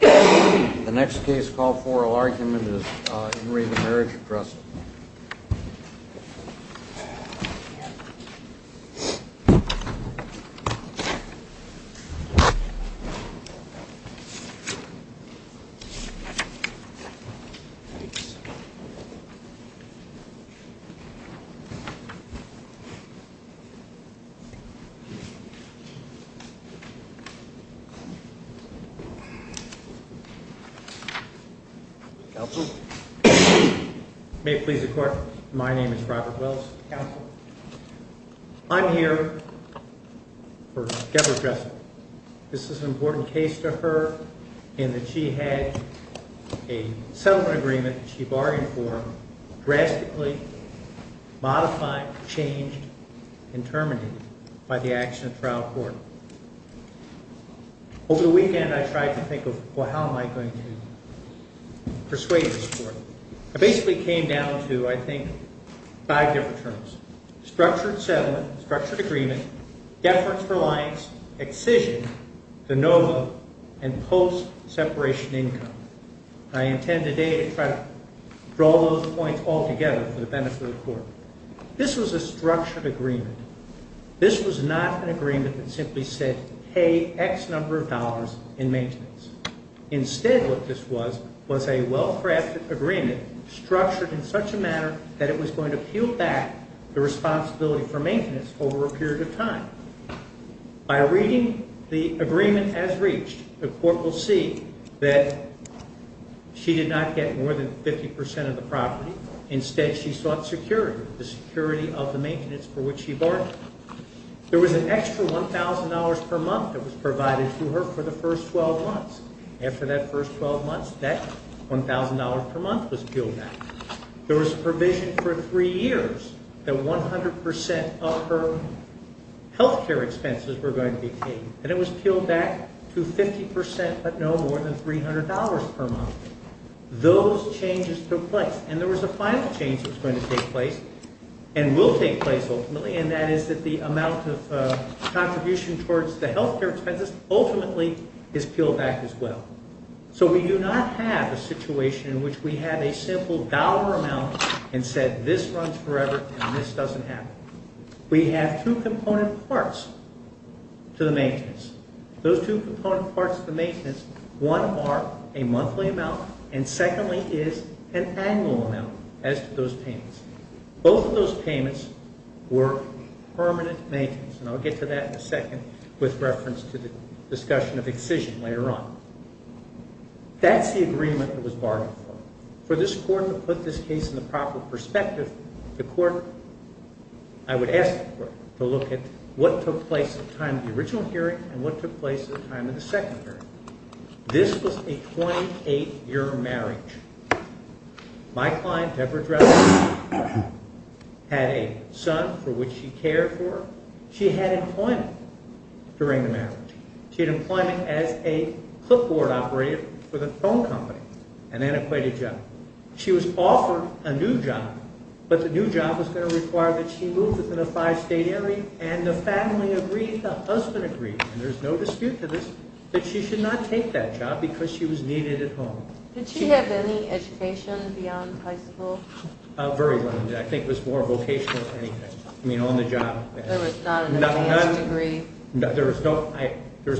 The next case called Foral Argument is in Re the Marriage of Dressel. I'm here for Deborah Dressel. This is an important case to her in that she had a settlement agreement that she bargained for, drastically modified, changed, and terminated by the action of trial court. Over the weekend I tried to think of how am I going to persuade this court. I basically came down to, I think, five different terms. Structured settlement, structured agreement, deference reliance, excision, de novo, and post-separation income. I intend today to try to draw those points all together for the benefit of the court. This was a structured agreement. This was not an agreement that simply said pay X number of dollars in maintenance. Instead what this was, was a well-crafted agreement structured in such a manner that it was going to peel back the responsibility for maintenance over a period of time. By reading the agreement as reached, the court will see that she did not get more than 50% of the property. Instead she sought security, the security of the maintenance for which she bargained. There was an extra $1,000 per month that was provided to her for the first 12 months. After that first 12 months, that $1,000 per month was peeled back. There was a provision for three years that 100% of her health care expenses were going to be paid. And it was peeled back to 50%, but no more than $300 per month. Those changes took place. And there was a final change that was going to take place, and will take place ultimately, and that is that the amount of contribution towards the health care expenses ultimately is peeled back as well. So we do not have a situation in which we have a simple dollar amount and said this runs forever and this doesn't happen. We have two component parts to the maintenance. Those two component parts to the maintenance, one are a monthly amount and secondly is an annual amount as to those payments. Both of those payments were permanent maintenance, and I'll get to that in a second with reference to the discussion of excision later on. That's the agreement that was bargained for. For this Court to put this case in the proper perspective, the Court, I would ask the Court to look at what took place at the time of the original hearing and what took place at the time of the second hearing. This was a 28-year marriage. My client, Deborah Dressler, had a son for which she cared for. She had employment during the marriage. She had employment as a clipboard operator for the phone company, an antiquated job. She was offered a new job, but the new job was going to require that she move within a five-state area, and the family agreed, the husband agreed, and there's no dispute to this, that she should not take that job because she was needed at home. Did she have any education beyond high school? Very little. I think it was more vocational than anything. I mean, on the job. There was not an advanced degree? There was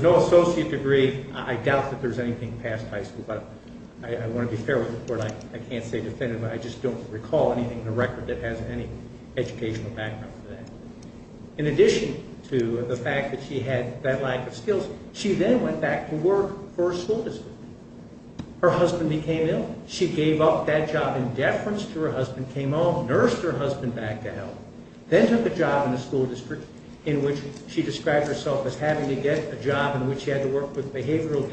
no associate degree. I doubt that there was anything past high school, but I want to be fair with the Court. I can't say definitively. I just don't recall anything in the record that has any educational background for that. In addition to the fact that she had that lack of skills, she then went back to work for a school district. Her husband became ill. She gave up that job in deference to her husband, came home, nursed her husband back to health, then took a job in a school district in which she described herself as having to get a job in which she had to work with behavioral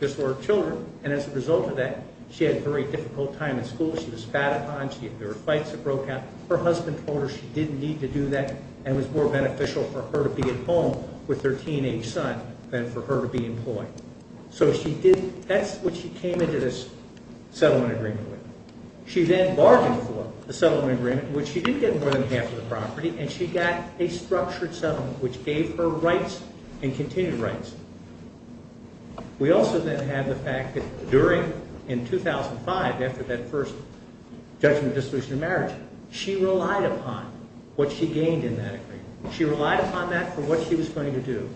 disorder children, and as a result of that, she had a very difficult time in school. She was spat upon. There were fights that broke out. Her husband told her she didn't need to do that and it was more beneficial for her to be at home with her teenage son than for her to be employed. So that's what she came into this settlement agreement with. She then bargained for the settlement agreement, which she did get more than half of the property, and she got a structured settlement which gave her rights and continued rights. We also then have the fact that in 2005, after that first judgment of dissolution of marriage, she relied upon what she gained in that agreement. She relied upon that for what she was going to do.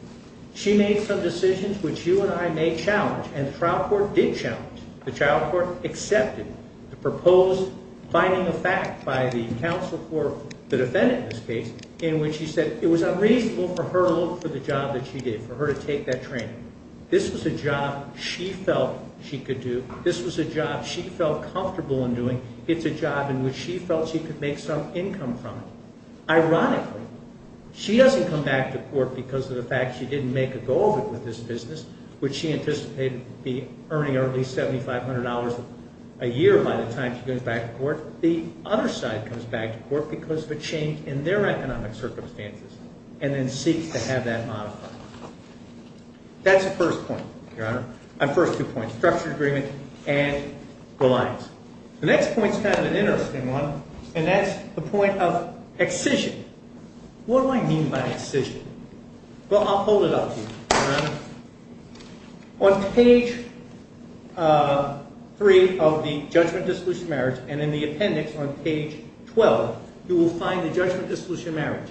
She made some decisions which you and I may challenge, and the trial court did challenge. The trial court accepted the proposed finding of fact by the counsel for the defendant in this case, in which she said it was unreasonable for her to look for the job that she did, for her to take that training. This was a job she felt she could do. This was a job she felt comfortable in doing. It's a job in which she felt she could make some income from it. Ironically, she doesn't come back to court because of the fact she didn't make a goal of it with this business, which she anticipated to be earning at least $7,500 a year by the time she goes back to court. The other side comes back to court because of a change in their economic circumstances, and then seeks to have that modified. That's the first point, Your Honor. The first two points, structured agreement and reliance. The next point's kind of an interesting one, and that's the point of excision. What do I mean by excision? Well, I'll hold it up to you, Your Honor. On page 3 of the judgment-dissolution marriage, and in the appendix on page 12, you will find the judgment-dissolution marriage.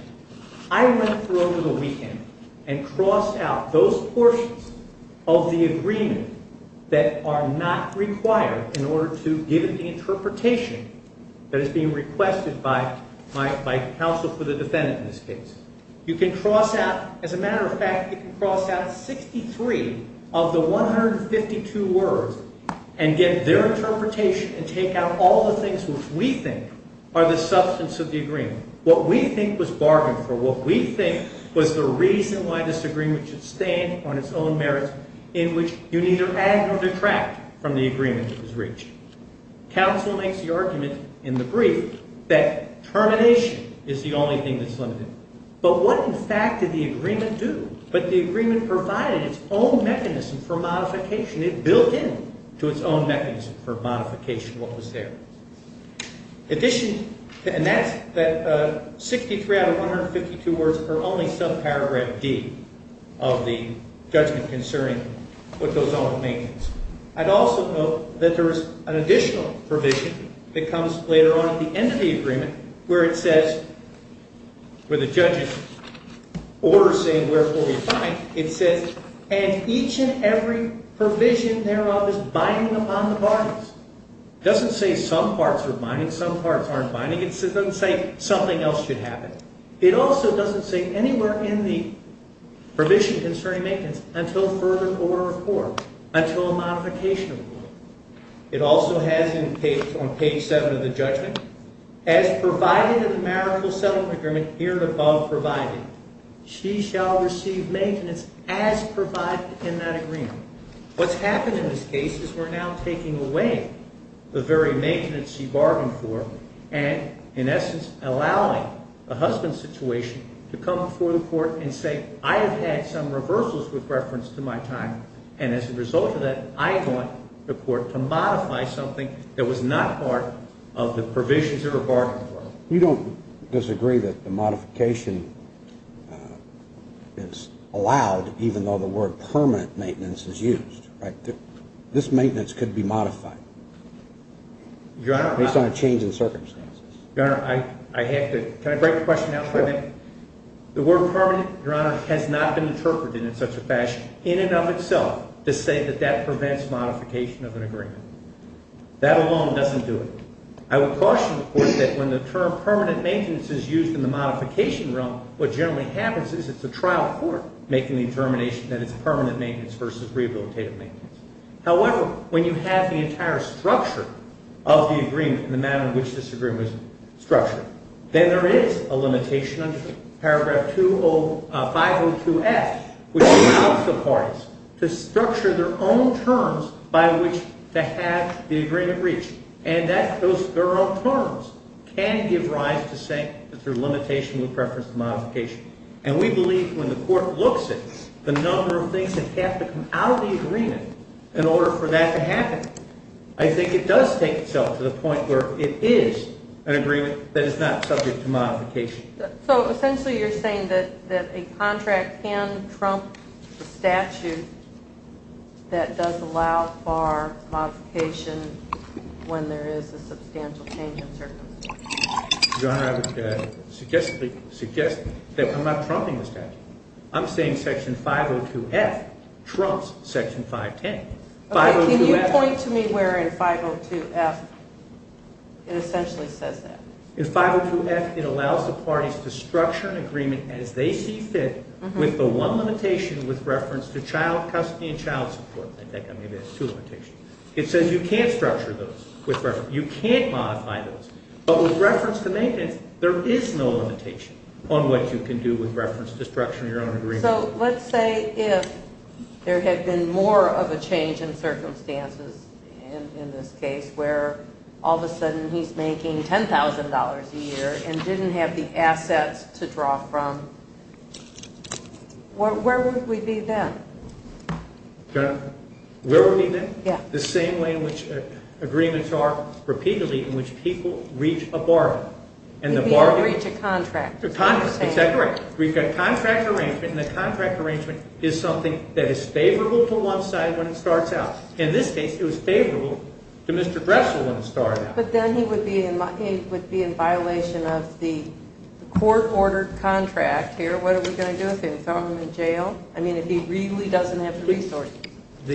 I went through over the weekend and crossed out those portions of the agreement that are not required in order to give the interpretation that is being requested by counsel for the defendant in this case. You can cross out, as a matter of fact, you can cross out 63 of the 152 words and get their interpretation and take out all the things which we think are the substance of the agreement, what we think was bargained for, what we think was the reason why this agreement should stand on its own merits, in which you neither add nor detract from the agreement that was reached. Counsel makes the argument in the brief that termination is the only thing that's limited. But what, in fact, did the agreement do? But the agreement provided its own mechanism for modification. It built into its own mechanism for modification what was there. In addition, and that's that 63 out of 152 words are only subparagraph D of the judgment concerning what goes on with maintenance. I'd also note that there is an additional provision that comes later on at the end of the agreement where it says, where the judge's order is saying, wherefore you bind, it says, and each and every provision thereof is binding upon the parties. It doesn't say some parts are binding, some parts aren't binding. It doesn't say something else should happen. It also doesn't say anywhere in the provision concerning maintenance until further court of court, until a modification. It also has on page 7 of the judgment, as provided in the marital settlement agreement here above provided, she shall receive maintenance as provided in that agreement. What's happened in this case is we're now taking away the very maintenance she bargained for and, in essence, allowing the husband's situation to come before the court and say, I have had some reversals with reference to my time, and as a result of that, I want the court to modify something that was not part of the provisions that were bargained for. You don't disagree that the modification is allowed even though the word permanent maintenance is used, right? This maintenance could be modified based on a change in circumstances. Your Honor, I have to – can I break the question out for a minute? Sure. The word permanent, Your Honor, has not been interpreted in such a fashion in and of itself to say that that prevents modification of an agreement. That alone doesn't do it. I would caution the court that when the term permanent maintenance is used in the modification realm, what generally happens is it's a trial court making the determination that it's permanent maintenance versus rehabilitative maintenance. However, when you have the entire structure of the agreement and the manner in which this agreement was structured, then there is a limitation under paragraph 502F, which allows the parties to structure their own terms by which to have the agreement reached. And that – those – their own terms can give rise to saying that there's a limitation with reference to modification. And we believe when the court looks at the number of things that have to come out of the agreement in order for that to happen, I think it does take itself to the point where it is an agreement that is not subject to modification. So essentially you're saying that a contract can trump the statute that does allow for modification when there is a substantial change in circumstance. Your Honor, I would suggest that I'm not trumping the statute. I'm saying section 502F trumps section 510. Can you point to me where in 502F it essentially says that? In 502F it allows the parties to structure an agreement as they see fit with the one limitation with reference to child custody and child support. I think maybe that's two limitations. It says you can't structure those with reference – you can't modify those. But with reference to maintenance, there is no limitation on what you can do with reference to structuring your own agreement. So let's say if there had been more of a change in circumstances in this case where all of a sudden he's making $10,000 a year and didn't have the assets to draw from, where would we be then? Your Honor, where would we be then? The same way in which agreements are repeatedly in which people reach a bargain. You mean reach a contract. It's that correct. We've got contract arrangement, and the contract arrangement is something that is favorable to one side when it starts out. In this case, it was favorable to Mr. Dressel when it started out. But then he would be in violation of the court-ordered contract here. What are we going to do with him? Throw him in jail? I mean, if he really doesn't have the resources.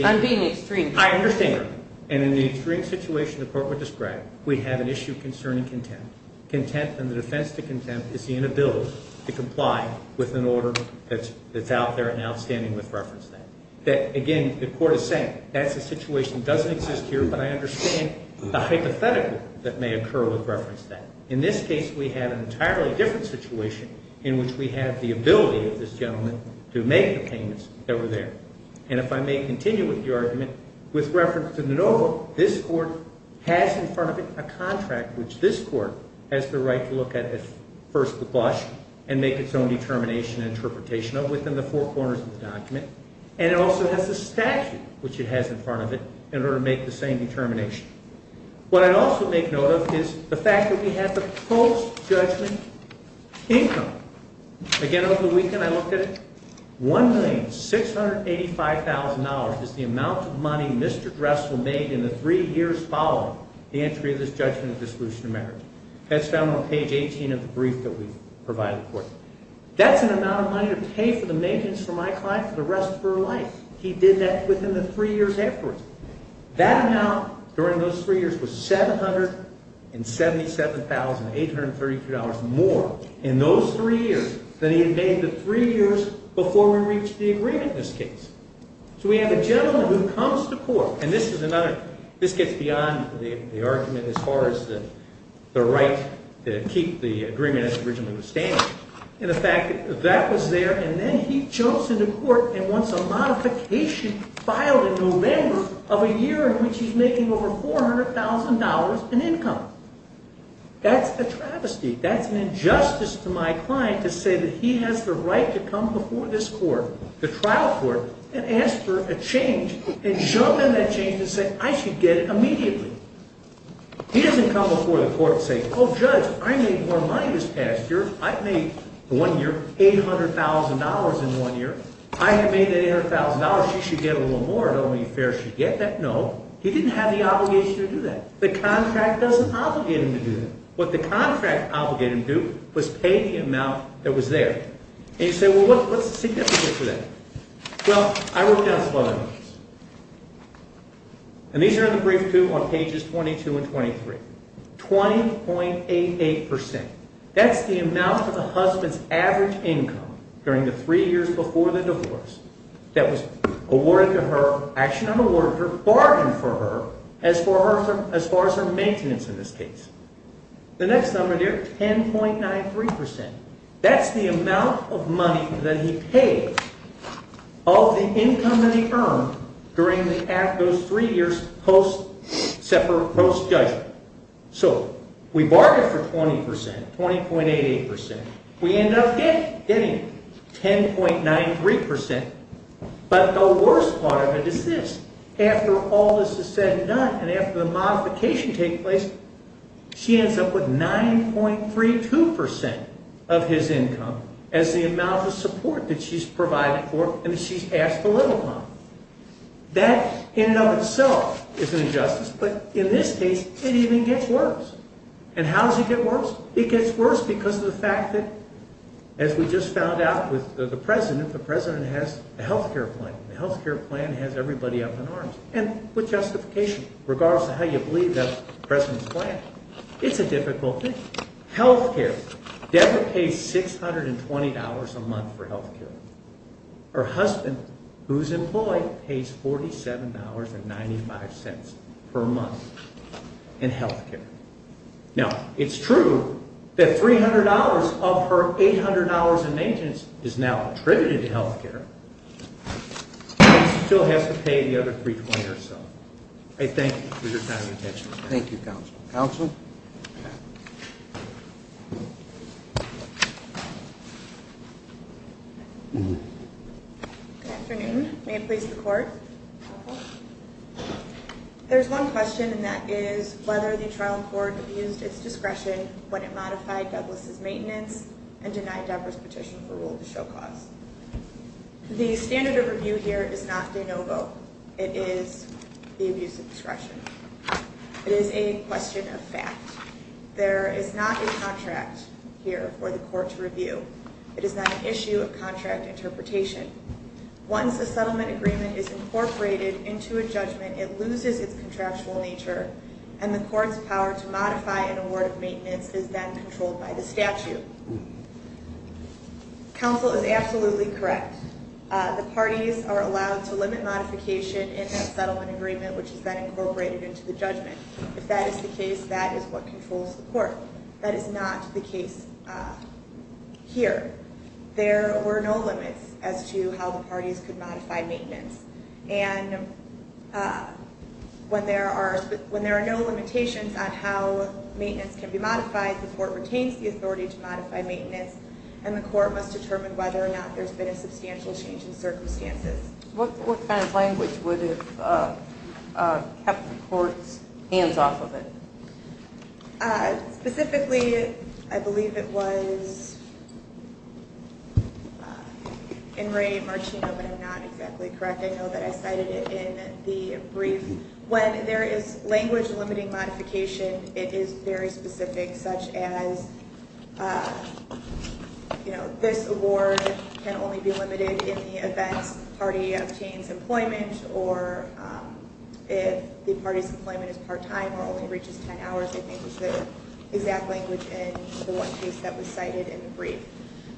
I'm being extreme. I understand that. And in the extreme situation the court would describe, we have an issue concerning contempt. And the defense to contempt is the inability to comply with an order that's out there and outstanding with reference to that. Again, the court is saying that's a situation that doesn't exist here, but I understand the hypothetical that may occur with reference to that. In this case, we have an entirely different situation in which we have the ability of this gentleman to make the payments that were there. And if I may continue with the argument, with reference to the NOVA, this court has in front of it a contract which this court has the right to look at first the blush and make its own determination and interpretation of within the four corners of the document. And it also has a statute, which it has in front of it, in order to make the same determination. What I'd also make note of is the fact that we have the post-judgment income. Again, over the weekend I looked at it. $1,685,000 is the amount of money Mr. Dressel made in the three years following the entry of this judgment of dissolution of marriage. That's found on page 18 of the brief that we provided the court. That's an amount of money to pay for the maintenance for my client for the rest of her life. He did that within the three years afterwards. That amount during those three years was $777,832 more. In those three years than he had made the three years before we reached the agreement in this case. So we have a gentleman who comes to court. And this gets beyond the argument as far as the right to keep the agreement as it originally was standing. And the fact that that was there and then he jumps into court and wants a modification filed in November of a year in which he's making over $400,000 in income. That's a travesty. That's an injustice to my client to say that he has the right to come before this court, the trial court, and ask for a change. And jump in that change and say, I should get it immediately. He doesn't come before the court and say, oh, Judge, I made more money this past year. I've made, for one year, $800,000 in one year. I have made that $800,000. She should get a little more. Don't you think she should get that? No. He didn't have the obligation to do that. The contract doesn't obligate him to do that. What the contract obligated him to do was pay the amount that was there. And you say, well, what's the significance of that? Well, I wrote down some other numbers. And these are in the brief, too, on pages 22 and 23. 20.88%. That's the amount of the husband's average income during the three years before the divorce that was awarded to her, actually not awarded to her, bargained for her as far as her maintenance in this case. The next number there, 10.93%. That's the amount of money that he paid of the income that he earned during those three years post-judgment. So we bargained for 20%, 20.88%. We end up getting 10.93%. But the worst part of it is this. After all this is said and done and after the modification takes place, she ends up with 9.32% of his income as the amount of support that she's provided for and that she's asked to live upon. That in and of itself is an injustice. But in this case, it even gets worse. And how does it get worse? It gets worse because of the fact that, as we just found out with the president, the president has a health care plan. The health care plan has everybody up in arms. And with justification, regardless of how you believe the president's plan, it's a difficult thing. Deborah pays $620 a month for health care. Her husband, who's employed, pays $47.95 per month in health care. Now, it's true that $300 of her $800 in maintenance is now attributed to health care. She still has to pay the other $320 or so. I thank you for your time and attention. Thank you, counsel. Counsel? Good afternoon. May it please the court? There's one question, and that is whether the trial court used its discretion when it modified Douglas' maintenance and denied Deborah's petition for rule to show cause. The standard of review here is not de novo. It is the abuse of discretion. It is a question of fact. There is not a contract here for the court to review. It is not an issue of contract interpretation. Once a settlement agreement is incorporated into a judgment, it loses its contractual nature, and the court's power to modify an award of maintenance is then controlled by the statute. Counsel is absolutely correct. The parties are allowed to limit modification in a settlement agreement, which is then incorporated into the judgment. If that is the case, that is what controls the court. That is not the case here. There were no limits as to how the parties could modify maintenance. And when there are no limitations on how maintenance can be modified, the court retains the authority to modify maintenance, and the court must determine whether or not there's been a substantial change in circumstances. What kind of language would have kept the court's hands off of it? Specifically, I believe it was in Ray Martino, but I'm not exactly correct. I know that I cited it in the brief. When there is language limiting modification, it is very specific, such as, you know, this award can only be limited in the event the party obtains employment or if the party's employment is part-time or only reaches 10 hours. I think it was the exact language in the one case that was cited in the brief.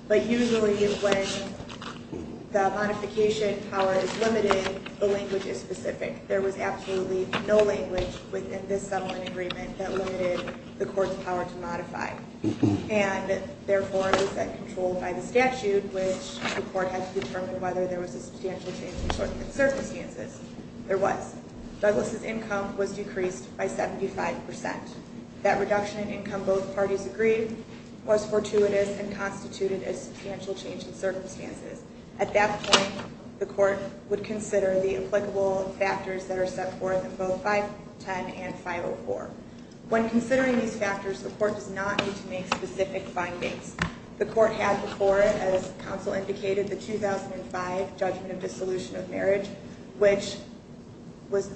But usually when the modification power is limited, the language is specific. There was absolutely no language within this settlement agreement that limited the court's power to modify. And, therefore, it was then controlled by the statute, which the court had to determine whether there was a substantial change in circumstances. There was. Douglas' income was decreased by 75%. That reduction in income both parties agreed was fortuitous and constituted a substantial change in circumstances. At that point, the court would consider the applicable factors that are set forth in both 510 and 504. When considering these factors, the court does not need to make specific findings. The court had before it, as counsel indicated, the 2005 judgment of dissolution of marriage, which was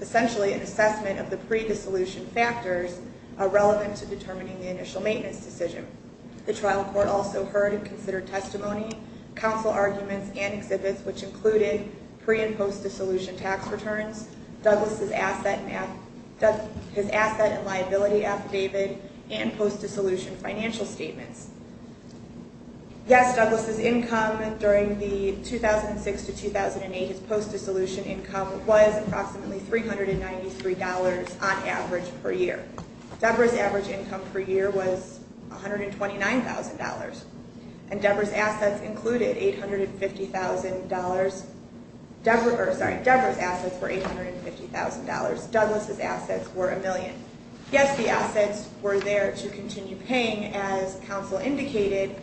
essentially an assessment of the pre-dissolution factors relevant to determining the initial maintenance decision. The trial court also heard and considered testimony, counsel arguments, and exhibits, which included pre- and post-dissolution tax returns, Douglas' asset and liability affidavit, and post-dissolution financial statements. Yes, Douglas' income during the 2006 to 2008 post-dissolution income was approximately $393 on average per year. Deborah's average income per year was $129,000. And Deborah's assets included $850,000. Sorry, Deborah's assets were $850,000. Douglas' assets were a million. Yes, the assets were there to continue paying, as counsel indicated,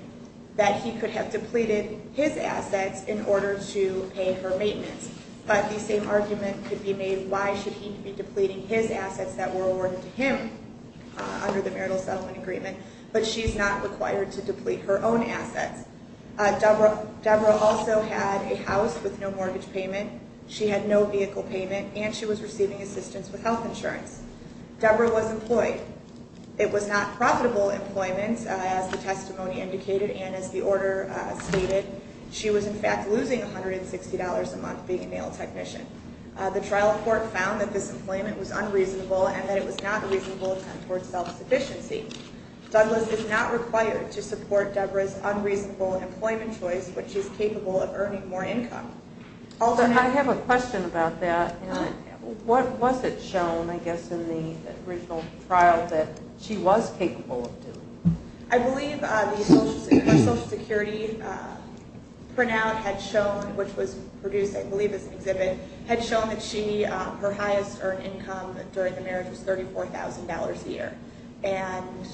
that he could have depleted his assets in order to pay for maintenance. But the same argument could be made, why should he be depleting his assets that were awarded to him under the marital settlement agreement? But she's not required to deplete her own assets. Deborah also had a house with no mortgage payment. She had no vehicle payment, and she was receiving assistance with health insurance. Deborah was employed. It was not profitable employment, as the testimony indicated and as the order stated. She was, in fact, losing $160 a month being a nail technician. The trial court found that this employment was unreasonable and that it was not a reasonable attempt towards self-sufficiency. Douglas is not required to support Deborah's unreasonable employment choice, but she's capable of earning more income. I have a question about that. What was it shown, I guess, in the original trial that she was capable of doing? I believe her Social Security printout had shown, which was produced, I believe, as an exhibit, had shown that her highest earned income during the marriage was $34,000 a year. And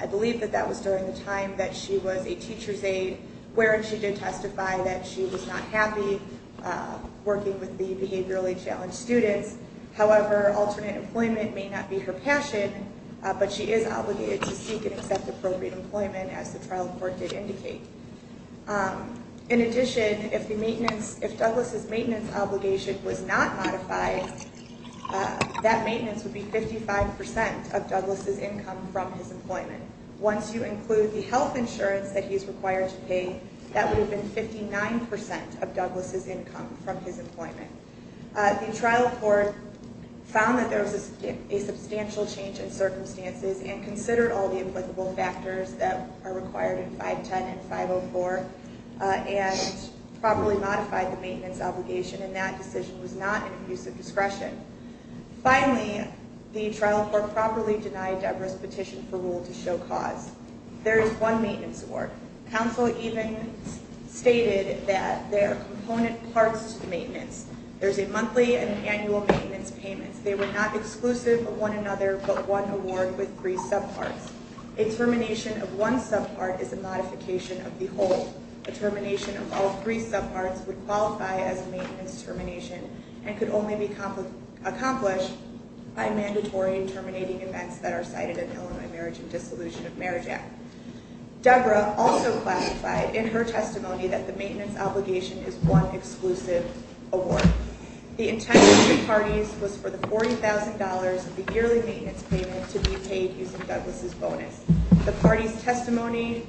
I believe that that was during the time that she was a teacher's aide, wherein she did testify that she was not happy working with the behaviorally challenged students. However, alternate employment may not be her passion, but she is obligated to seek and accept appropriate employment, as the trial court did indicate. In addition, if Douglas' maintenance obligation was not modified, that maintenance would be 55% of Douglas' income from his employment. Once you include the health insurance that he's required to pay, that would have been 59% of Douglas' income from his employment. The trial court found that there was a substantial change in circumstances and considered all the applicable factors that are required in 510 and 504 and properly modified the maintenance obligation, and that decision was not in abuse of discretion. Finally, the trial court properly denied Deborah's petition for rule to show cause. There is one maintenance award. Counsel even stated that there are component parts to the maintenance. There's a monthly and annual maintenance payment. They were not exclusive of one another, but one award with three subparts. A termination of one subpart is a modification of the whole. A termination of all three subparts would qualify as a maintenance termination and could only be accomplished by mandatory and terminating events that are cited in the Illinois Marriage and Dissolution of Marriage Act. Deborah also classified in her testimony that the maintenance obligation is one exclusive award. The intent of the parties was for the $40,000 of the yearly maintenance payment to be paid using Douglas' bonus. The party's testimony,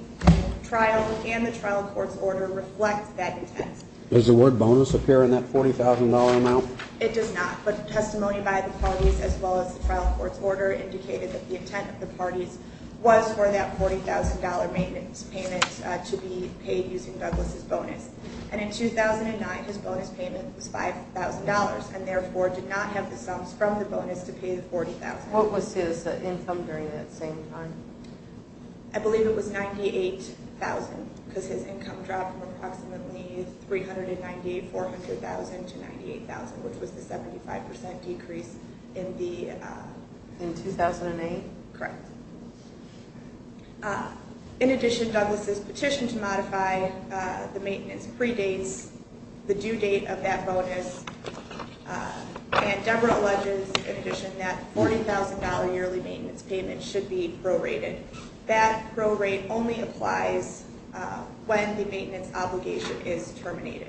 trial, and the trial court's order reflect that intent. Does the word bonus appear in that $40,000 amount? It does not, but testimony by the parties as well as the trial court's order indicated that the intent of the parties was for that $40,000 maintenance payment to be paid using Douglas' bonus. In 2009, his bonus payment was $5,000 and therefore did not have the sums from the bonus to pay the $40,000. What was his income during that same time? I believe it was $98,000 because his income dropped from approximately $398,400 to $98,000, which was the 75% decrease in the... In 2008? Correct. In addition, Douglas' petition to modify the maintenance predates the due date of that bonus, and Deborah alleges in addition that $40,000 yearly maintenance payment should be prorated. That prorate only applies when the maintenance obligation is terminated.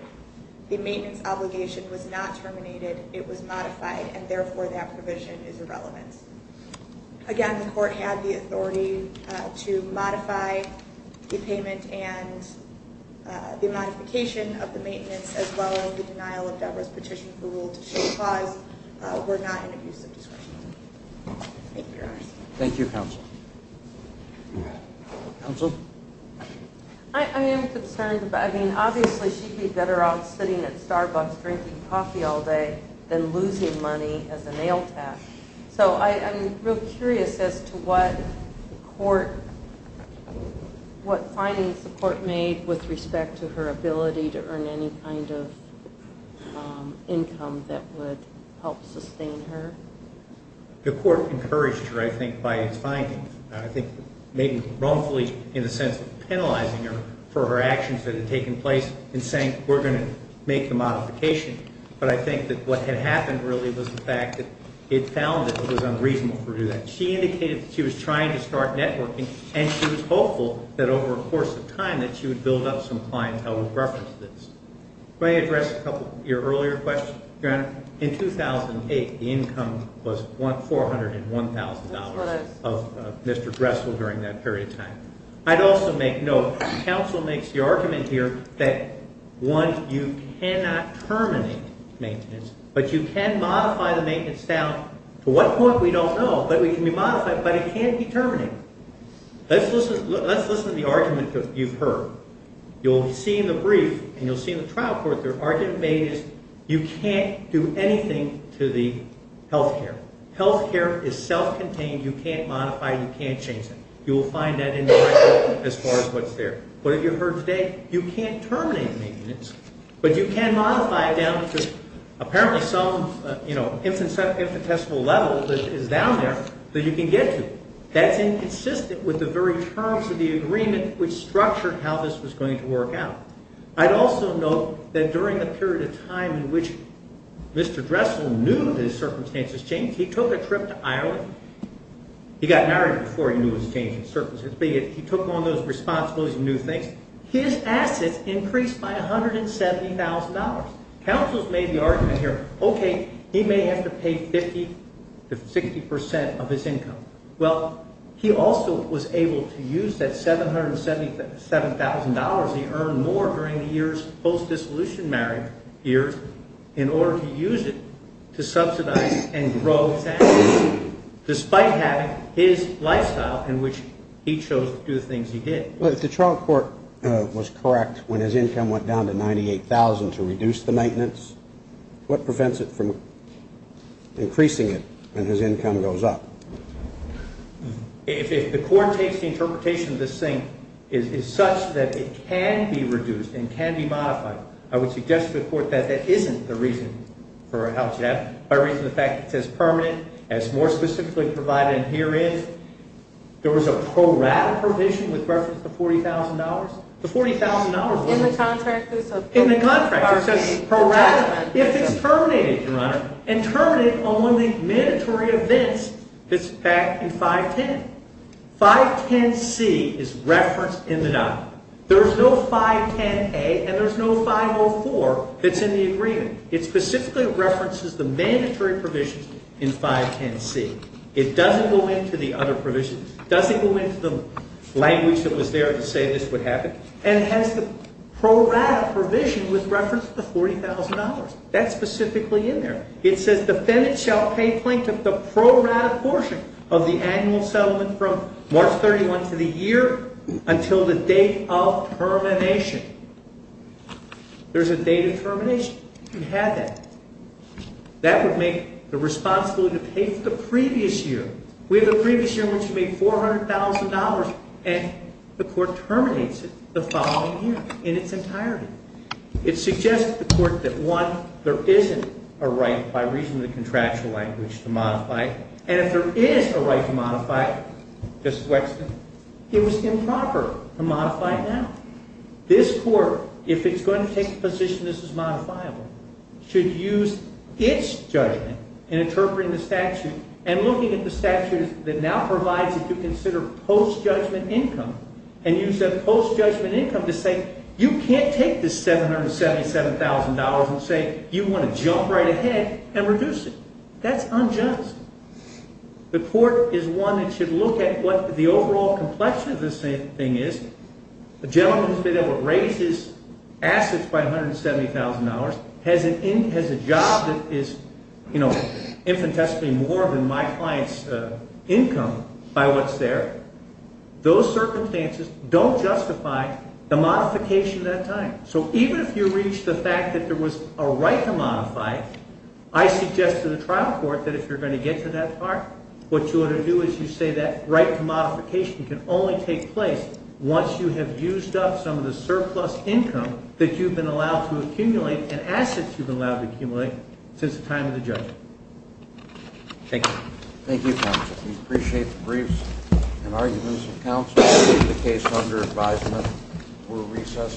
The maintenance obligation was not terminated. It was modified, and therefore that provision is irrelevant. Again, the court had the authority to modify the payment and the modification of the maintenance as well as the denial of Deborah's petition for the rule to show clause were not in abusive discretion. Thank you, Your Honor. Thank you, counsel. Counsel? I am concerned about... I mean, obviously she'd be better off sitting at Starbucks drinking coffee all day than losing money as a nail tap. So I'm real curious as to what court... what findings the court made with respect to her ability to earn any kind of income that would help sustain her. The court encouraged her, I think, by its findings. I think maybe wrongfully in the sense of penalizing her for her actions that had taken place and saying we're going to make the modification. But I think that what had happened really was the fact that it found that it was unreasonable for her to do that. She indicated that she was trying to start networking, and she was hopeful that over the course of time that she would build up some clientele with reference to this. In 2008, the income was $401,000 of Mr. Dressel during that period of time. I'd also make note, counsel makes the argument here that, one, you cannot terminate maintenance, but you can modify the maintenance now. To what point, we don't know, but it can be modified, but it can't be terminated. Let's listen to the argument you've heard. You'll see in the brief, and you'll see in the trial court, the argument made is you can't do anything to the health care. Health care is self-contained. You can't modify it. You can't change it. You'll find that in the trial court as far as what's there. What have you heard today? You can't terminate maintenance, but you can modify it down to apparently some, you know, infinitesimal level that is down there that you can get to. That's inconsistent with the very terms of the agreement which structured how this was going to work out. I'd also note that during the period of time in which Mr. Dressel knew that his circumstances changed, he took a trip to Ireland. He got married before he knew his circumstances changed, but he took on those responsibilities and knew things. His assets increased by $170,000. Counsel's made the argument here, okay, he may have to pay 50 to 60 percent of his income. Well, he also was able to use that $777,000 he earned more during the years post-dissolution marriage years in order to use it to subsidize and grow his assets, despite having his lifestyle in which he chose to do the things he did. Well, if the trial court was correct when his income went down to $98,000 to reduce the maintenance, what prevents it from increasing it when his income goes up? If the court takes the interpretation of this thing is such that it can be reduced and can be modified, I would suggest to the court that that isn't the reason for how it should happen. By reason of the fact it says permanent, as more specifically provided in herein, there was a pro rata provision with reference to $40,000. In the contract? In the contract. It says pro rata. If it's terminated, Your Honor, and terminated on one of the mandatory events, it's back in 510. 510C is referenced in the document. There's no 510A and there's no 504 that's in the agreement. It specifically references the mandatory provisions in 510C. It doesn't go into the other provisions. It doesn't go into the language that was there to say this would happen. And it has the pro rata provision with reference to the $40,000. That's specifically in there. It says defendants shall pay plaintiff the pro rata portion of the annual settlement from March 31 to the year until the date of termination. There's a date of termination. You can have that. That would make the responsibility to pay for the previous year. We have a previous year in which we made $400,000 and the court terminates it the following year in its entirety. It suggests to the court that, one, there isn't a right by reason of the contractual language to modify it. And if there is a right to modify it, Justice Wexton, it was improper to modify it now. This court, if it's going to take the position this is modifiable, should use its judgment in interpreting the statute and looking at the statute that now provides it to consider post-judgment income and use that post-judgment income to say you can't take this $777,000 and say you want to jump right ahead and reduce it. That's unjust. The court is one that should look at what the overall complexion of this thing is. The gentleman who's been able to raise his assets by $170,000 has a job that is, you know, infinitesimally more than my client's income by what's there. Those circumstances don't justify the modification at that time. So even if you reach the fact that there was a right to modify, I suggest to the trial court that if you're going to get to that part, what you ought to do is you say that right to modification can only take place once you have used up some of the surplus income that you've been allowed to accumulate and assets you've been allowed to accumulate since the time of the judgment. Thank you. Thank you, counsel. We appreciate the briefs and arguments of counsel. We leave the case under advisement. We're recessed.